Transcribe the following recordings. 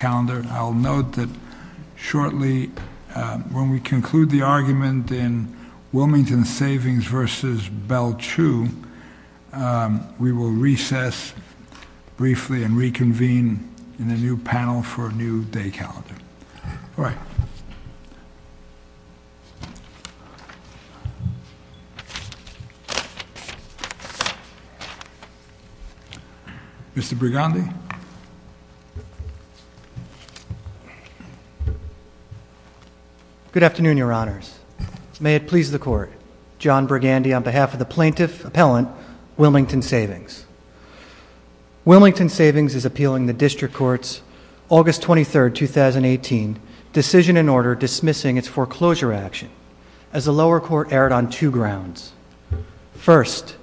calendar. I'll note that shortly when we conclude the argument in Wilmington Savings versus Bell Chu, we will recess briefly and reconvene in a new panel for a new day calendar. All right. Mr. Brigandi. Good afternoon, your honors. May it please the court. John Brigandi on behalf of the plaintiff appellant, Wilmington Savings. Wilmington Savings is appealing the district court's August 23rd, 2018 decision and order dismissing its foreclosure action as the lower court erred on two grounds. First,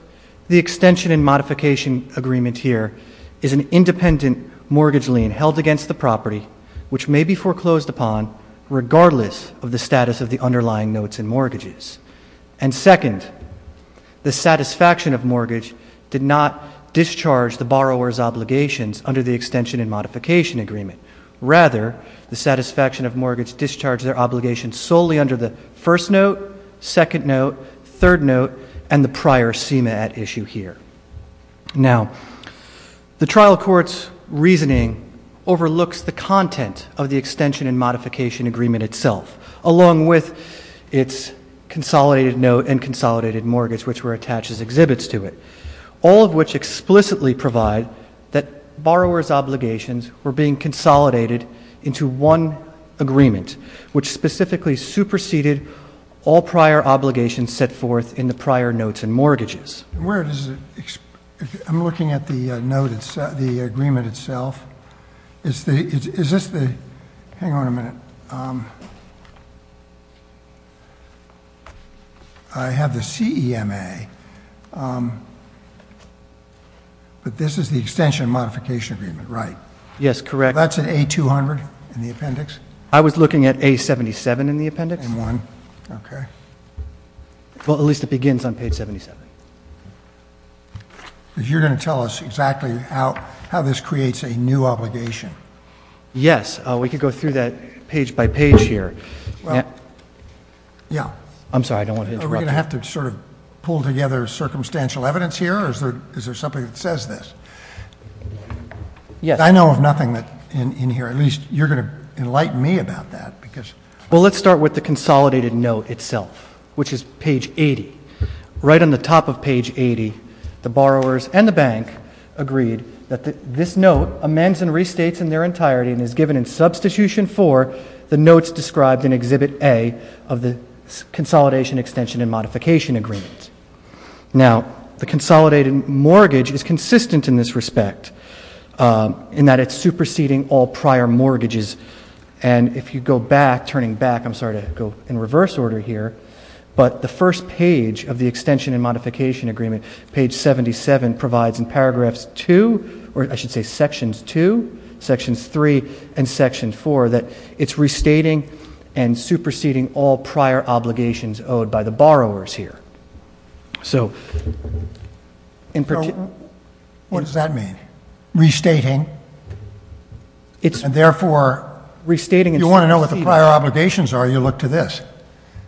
the extension and modification agreement here is an independent mortgage lien held against the property which may be foreclosed upon regardless of the status of the underlying notes and mortgages. And borrowers' obligations under the extension and modification agreement. Rather, the satisfaction of mortgages discharge their obligations solely under the first note, second note, third note, and the prior SEMA at issue here. Now, the trial court's reasoning overlooks the content of the extension and modification agreement itself, along with its consolidated note and provide that borrowers' obligations were being consolidated into one agreement, which specifically superseded all prior obligations set forth in the prior notes and mortgages. Where does it, I'm looking at the note, the agreement itself. Is this the, hang on a minute. I have the SEMA, but this is the extension and modification agreement, right? Yes, correct. That's an A200 in the appendix? I was looking at A77 in the appendix. Okay. Well, at least it begins on page 77. Because you're going to tell us exactly how this creates a new obligation. Yes, we could go through that page by page here. Yeah. I'm sorry, I don't want to interrupt you. Are we going to have to sort of pull together circumstantial evidence here, or is there something that says this? Yes. I know of nothing in here, at least you're going to enlighten me about that. Well, let's start with the consolidated note itself, which is page 80. Right on the top of page 80, the borrowers and the bank agreed that this note amends and restates in their entirety and is given in substitution for the notes described in Exhibit A of the consolidation extension and modification agreement. Now, the consolidated mortgage is consistent in this respect, in that it's superseding all prior mortgages. And if you go back, turning back, I'm sorry to go in reverse order here, but the first page of the extension and modification agreement says in paragraphs 2, or I should say sections 2, sections 3, and section 4, that it's restating and superseding all prior obligations owed by the borrowers here. So, in particular. So, what does that mean? Restating? And therefore, you want to know what the prior obligations are, you look to this.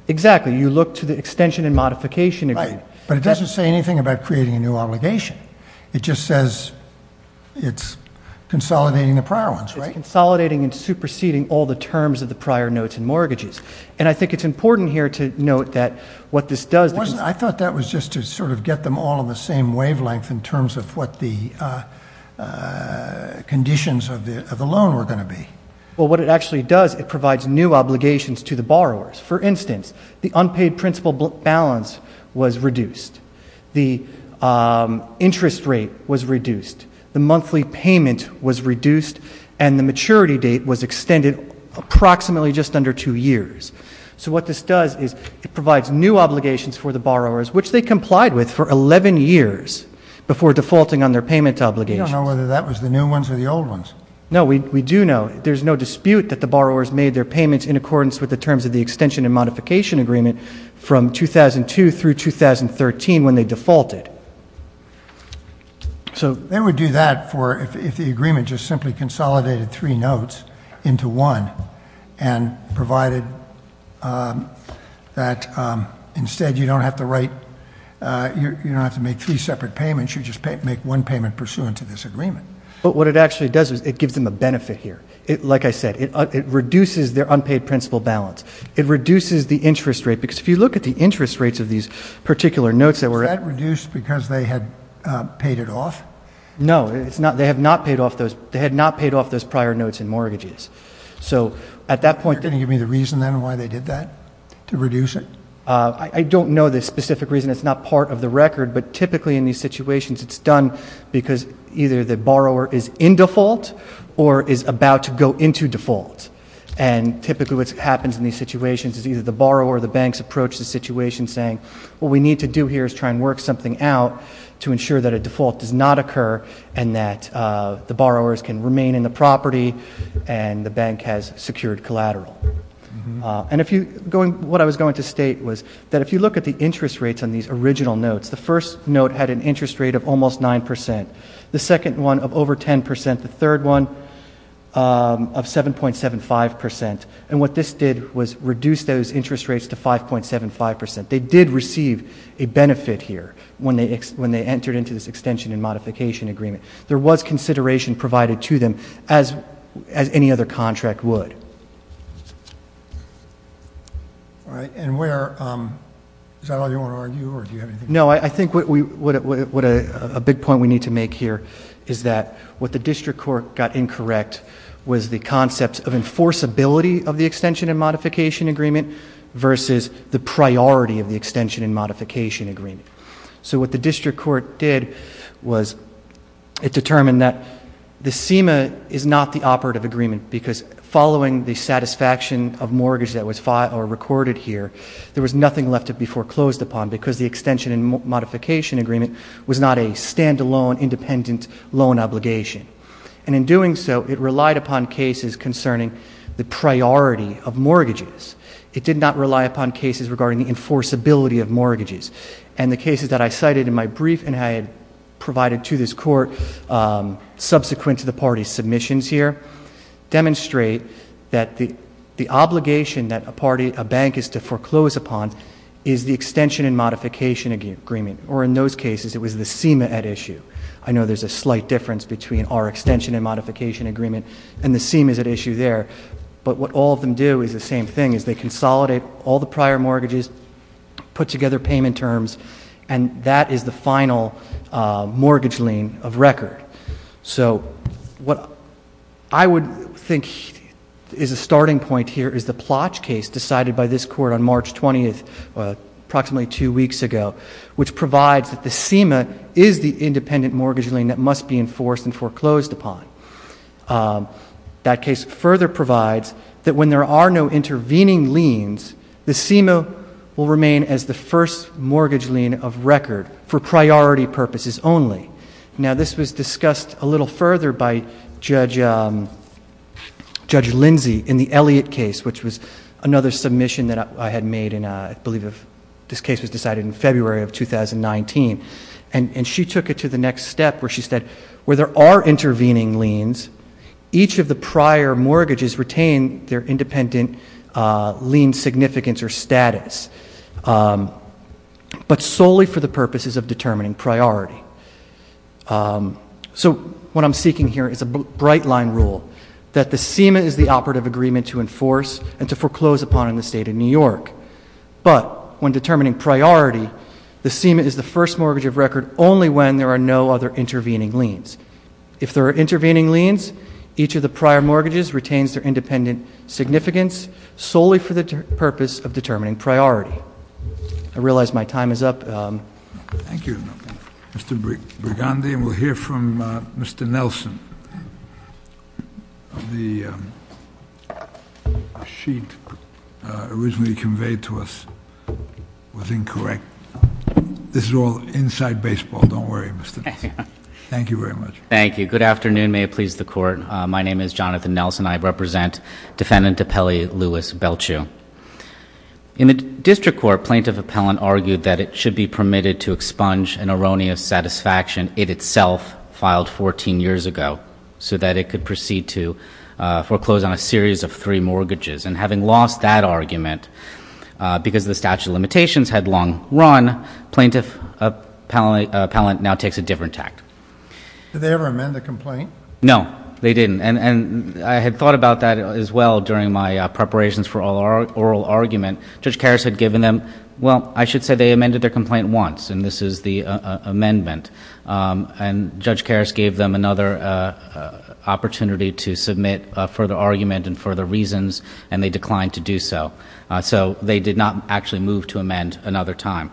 Exactly. You look to the extension and modification agreement. Right. But it doesn't say anything about creating a new obligation. It just says it's consolidating the prior ones, right? It's consolidating and superseding all the terms of the prior notes and mortgages. And I think it's important here to note that what this does. I thought that was just to sort of get them all in the same wavelength in terms of what the conditions of the loan were going to be. Well, what it actually does, it provides new obligations to the borrowers. For example, the interest rate was reduced. The monthly payment was reduced. And the maturity date was extended approximately just under two years. So, what this does is it provides new obligations for the borrowers, which they complied with for 11 years before defaulting on their payment obligations. I don't know whether that was the new ones or the old ones. No, we do know. There's no dispute that the borrowers made their payments in accordance with the terms of the extension and modification agreement from 2002 through 2013 when they defaulted. They would do that if the agreement just simply consolidated three notes into one and provided that instead you don't have to write, you don't have to make three separate payments. You just make one payment pursuant to this agreement. But what it actually does is it gives them a benefit here. Like I said, it reduces their unpaid principal balance. It reduces the interest rate. Because if you look at the interest rates of these particular notes that were... Was that reduced because they had paid it off? No, they had not paid off those prior notes in mortgages. So, at that point... Are you going to give me the reason then why they did that to reduce it? I don't know the specific reason. It's not part of the record, but typically in these situations it's done because either the borrower is in default or is about to go into default. And typically what happens in these situations is either the borrower or the banks approach the situation saying, what we need to do here is try and work something out to ensure that a default does not occur and that the borrowers can remain in the property and the bank has secured collateral. And if you... What I was going to say about these original notes, the first note had an interest rate of almost 9%. The second one of over 10%. The third one of 7.75%. And what this did was reduce those interest rates to 5.75%. They did receive a benefit here when they entered into this extension and modification agreement. There was No, I think what a big point we need to make here is that what the district court got incorrect was the concept of enforceability of the extension and modification agreement versus the priority of the extension and modification agreement. So, what the district court did was it determined that the SEMA is not the operative agreement was not a standalone independent loan obligation. And in doing so, it relied upon cases concerning the priority of mortgages. It did not rely upon cases regarding the enforceability of mortgages. And the cases that I cited in my brief and I had provided to this court subsequent to the party's submissions here demonstrate that the obligation that a bank is to foreclose upon is the extension and modification agreement. Or in those cases, it was the SEMA at issue. I know there's a slight difference between our extension and modification agreement and the SEMA's at issue there. But what all of them do is the same thing, is they consolidate all the is a starting point here is the Plotch case decided by this court on March 20th, approximately two weeks ago, which provides that the SEMA is the independent mortgage lien that must be enforced and foreclosed upon. That case further provides that when there are no intervening liens, the SEMA will remain as the first mortgage lien of Judge Lindsey in the Elliott case, which was another submission that I had made in, I believe, this case was decided in February of 2019. And she took it to the next step where she said, where there are intervening liens, each of the prior mortgages retain their independent lien significance or status, but solely for the purposes of determining priority. So what I'm seeking here is a bright line rule that the SEMA is the operative agreement to enforce and to foreclose upon in the state of New York. But when determining priority, the SEMA is the first mortgage of record only when there are no other intervening liens. If there are intervening liens, each of the prior mortgages retains their independent significance solely for the purpose of determining priority. I realize my time is up. Thank you, Mr. Brigandi. And we'll hear from Mr. Nelson. The sheet originally conveyed to us was incorrect. This is all inside baseball. Don't worry, Mr. Thank you very much. Thank you. Good afternoon. May it please the court. My name is Jonathan Nelson. I represent Defendant Appellee Louis Belchew. In the district court, Plaintiff Appellant argued that it should be permitted to expunge an erroneous satisfaction it itself filed 14 years ago, so that it could proceed to foreclose on a series of three mortgages. And having lost that argument because the statute of limitations had long run, Plaintiff Appellant now takes a different act. Did they ever amend the complaint? No, they didn't. I had thought about that as well during my preparations for oral argument. Judge Karras had given them, well, I should say they amended their complaint once, and this is the amendment. And Judge Karras gave them another opportunity to submit further argument and further reasons, and they declined to do so. So they did not actually move to amend another time.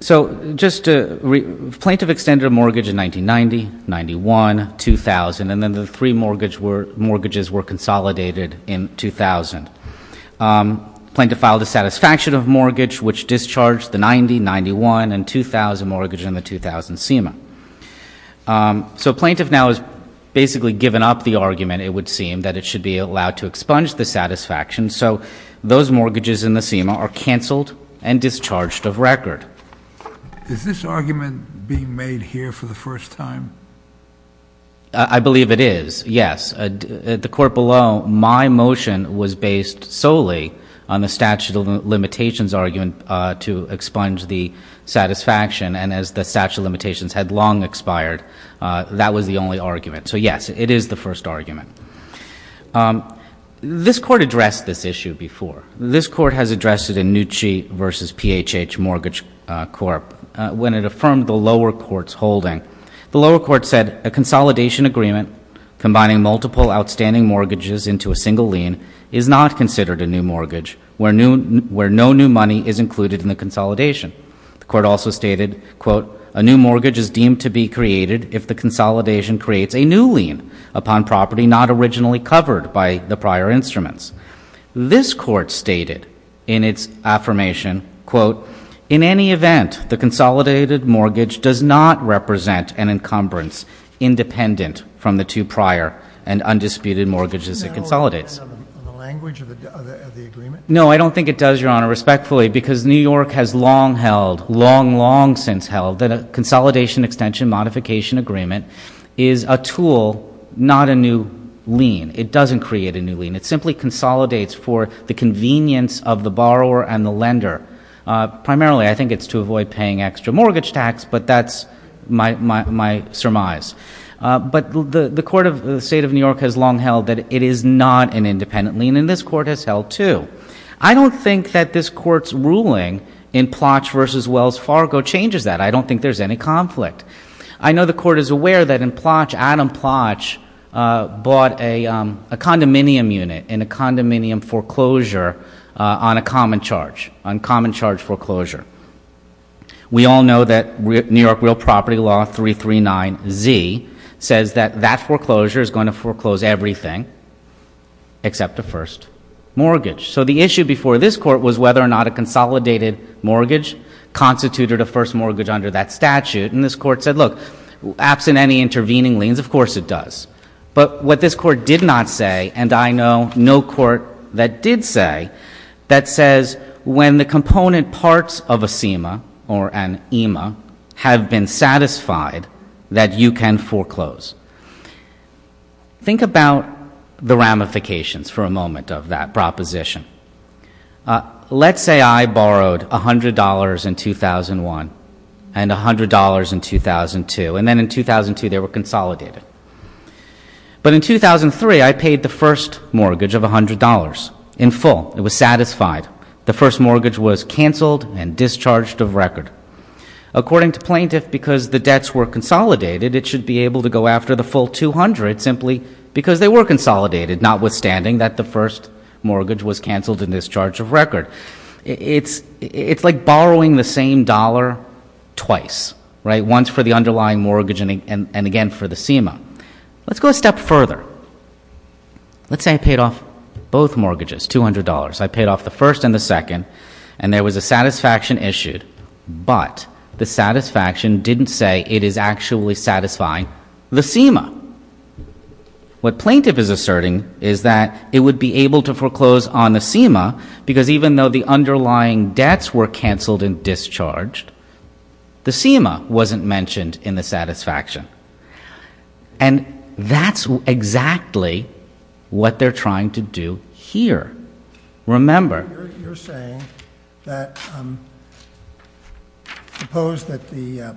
So just to, Plaintiff extended a mortgage in 1990, 91, 2000, and then the three mortgages were consolidated in 2000. Plaintiff filed a satisfaction of mortgage which discharged the 90, 91, and 2000 mortgage in the 2000 SEMA. So Plaintiff now has basically given up the argument, it would seem, that it should be allowed to expunge the satisfaction. So those mortgages in the SEMA are canceled and discharged of record. Is this argument being made here for the first time? I believe it is, yes. At the court below, my motion was based solely on the statute of limitations argument to expunge the satisfaction. And as the statute of limitations had long expired, that was the only argument. So yes, it is the first argument. This court addressed this issue before. This court has addressed it in Nucci v. PHH Mortgage Corp. when it affirmed the lower court's holding. The lower court said a consolidation agreement combining multiple outstanding mortgages into a single lien is not considered a new mortgage where no new money is included in the consolidation. The court also stated, quote, a new mortgage is deemed to be created if the consolidation creates a new lien upon property not originally covered by the prior instruments. This court stated in its affirmation, quote, in any event, the consolidated mortgage does not represent an encumbrance independent from the two prior and undisputed mortgages it consolidates. Doesn't that all depend on the language of the agreement? No, I don't think it does, Your Honor, respectfully, because New York has long held, long, long since held, that a consolidation extension modification agreement is a tool, not a new lien. It doesn't create a new lien. It simply consolidates for the convenience of the borrower and the lender. Primarily, I think it's to avoid paying extra mortgage tax, but that's my surmise. But the state of New York has long held that it is not an independent lien, and this court has held, too. I don't think that this court's ruling in Plotch v. Wells Fargo changes that. I don't think there's any conflict. I know the court is aware that in Plotch, Adam Plotch bought a condominium unit in a condominium foreclosure on a common charge, on common charge foreclosure. We all know that New York Real Property Law 339Z says that that foreclosure is going to foreclose everything except a first mortgage. So the issue before this court was whether or not a consolidated mortgage constituted a first mortgage under that statute, and this court said, look, absent any intervening liens, of course it does. But what this court did not say, and I know no court that did say, that says when the component parts of a CEMA or an EMA have been satisfied that you can foreclose. Think about the ramifications for a moment of that proposition. Let's say I borrowed $100 in 2001 and $100 in 2002, and then in 2002 they were consolidated. But in 2003, I paid the first mortgage of $100 in full. It was satisfied. The first mortgage was canceled and discharged of record. According to plaintiff, because the debts were consolidated, it should be able to go after the full 200 simply because they were consolidated, notwithstanding that the first mortgage was canceled and discharged of record. It's like borrowing the same dollar twice, right, once for the underlying mortgage and again for the CEMA. Let's go a step further. Let's say I paid off both mortgages, $200. I paid off the first and the second, and there was a satisfaction issued, but the satisfaction didn't say it is actually satisfying the CEMA. What plaintiff is asserting is that it would be able to foreclose on the CEMA because even though the underlying debts were canceled and discharged, the CEMA wasn't mentioned in the satisfaction. And that's exactly what they're trying to do here. Remember. You're saying that suppose that the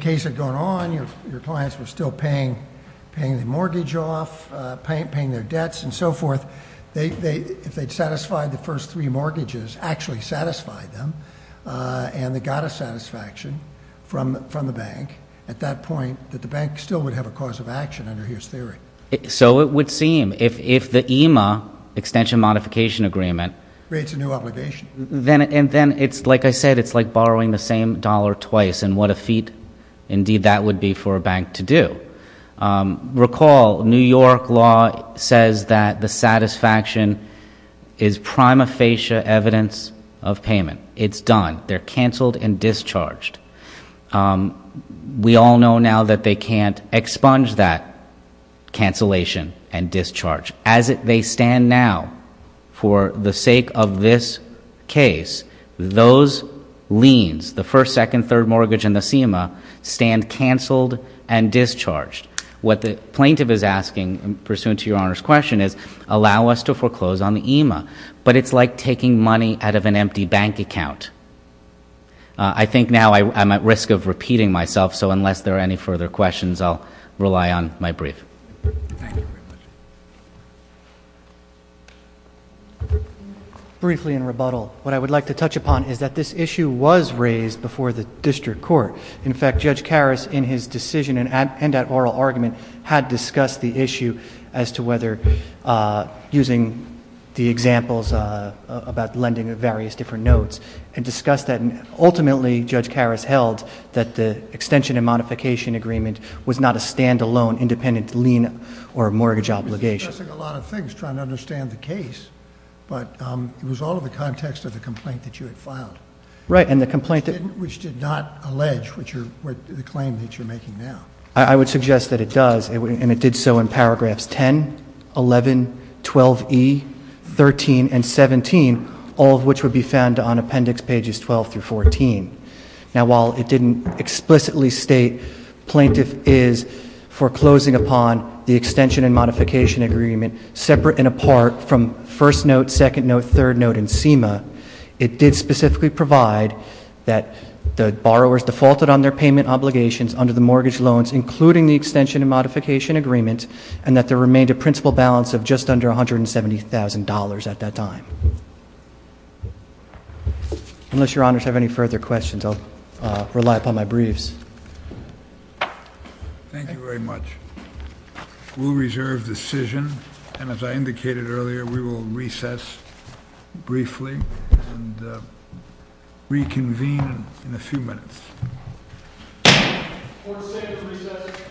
case had gone on, your clients were still paying the mortgage off, paying their debts and so forth. If they'd satisfied the first three mortgages, actually satisfied them, and they got a satisfaction from the bank, at that point, that the bank still would have a cause of action under his theory. So it would seem. If the EMA, extension modification agreement. Creates a new obligation. And then it's like I said, it's like borrowing the same dollar twice, and what a feat indeed that would be for a bank to do. Recall New York law says that the satisfaction is prima facie evidence of payment. It's done. They're canceled and discharged. We all know now that they can't expunge that cancellation and discharge. As they stand now, for the sake of this case, those liens, the first, second, third mortgage and the CEMA, stand canceled and discharged. What the plaintiff is asking, pursuant to your Honor's question, is allow us to foreclose on the EMA. But it's like taking money out of an empty bank account. I think now I'm at risk of repeating myself, so unless there are any further questions, I'll rely on my brief. Briefly in rebuttal, what I would like to touch upon is that this issue was raised before the district court. In fact, Judge Karas, in his decision and at oral argument, had discussed the issue as to whether, using the examples about lending of various different notes, and discussed that. Ultimately, Judge Karas held that the extension and modification agreement was not a stand-alone independent lien or mortgage obligation. He was discussing a lot of things, trying to understand the case, but it was all in the context of the complaint that you had filed. Right, and the complaint- Which did not allege the claim that you're making now. I would suggest that it does, and it did so in paragraphs 10, 11, 12E, 13, and 17, all of which would be found on appendix pages 12 through 14. Now, while it didn't explicitly state plaintiff is foreclosing upon the extension and modification agreement separate and apart from first note, second note, third note, and SEMA. It did specifically provide that the borrowers defaulted on their payment obligations under the mortgage loans, including the extension and modification agreement, and that there remained a principal balance of just under $170,000 at that time. Unless your honors have any further questions, I'll rely upon my briefs. Thank you very much. We'll reserve decision, and as I indicated earlier, we will recess briefly and reconvene in a few minutes. Court is adjourned.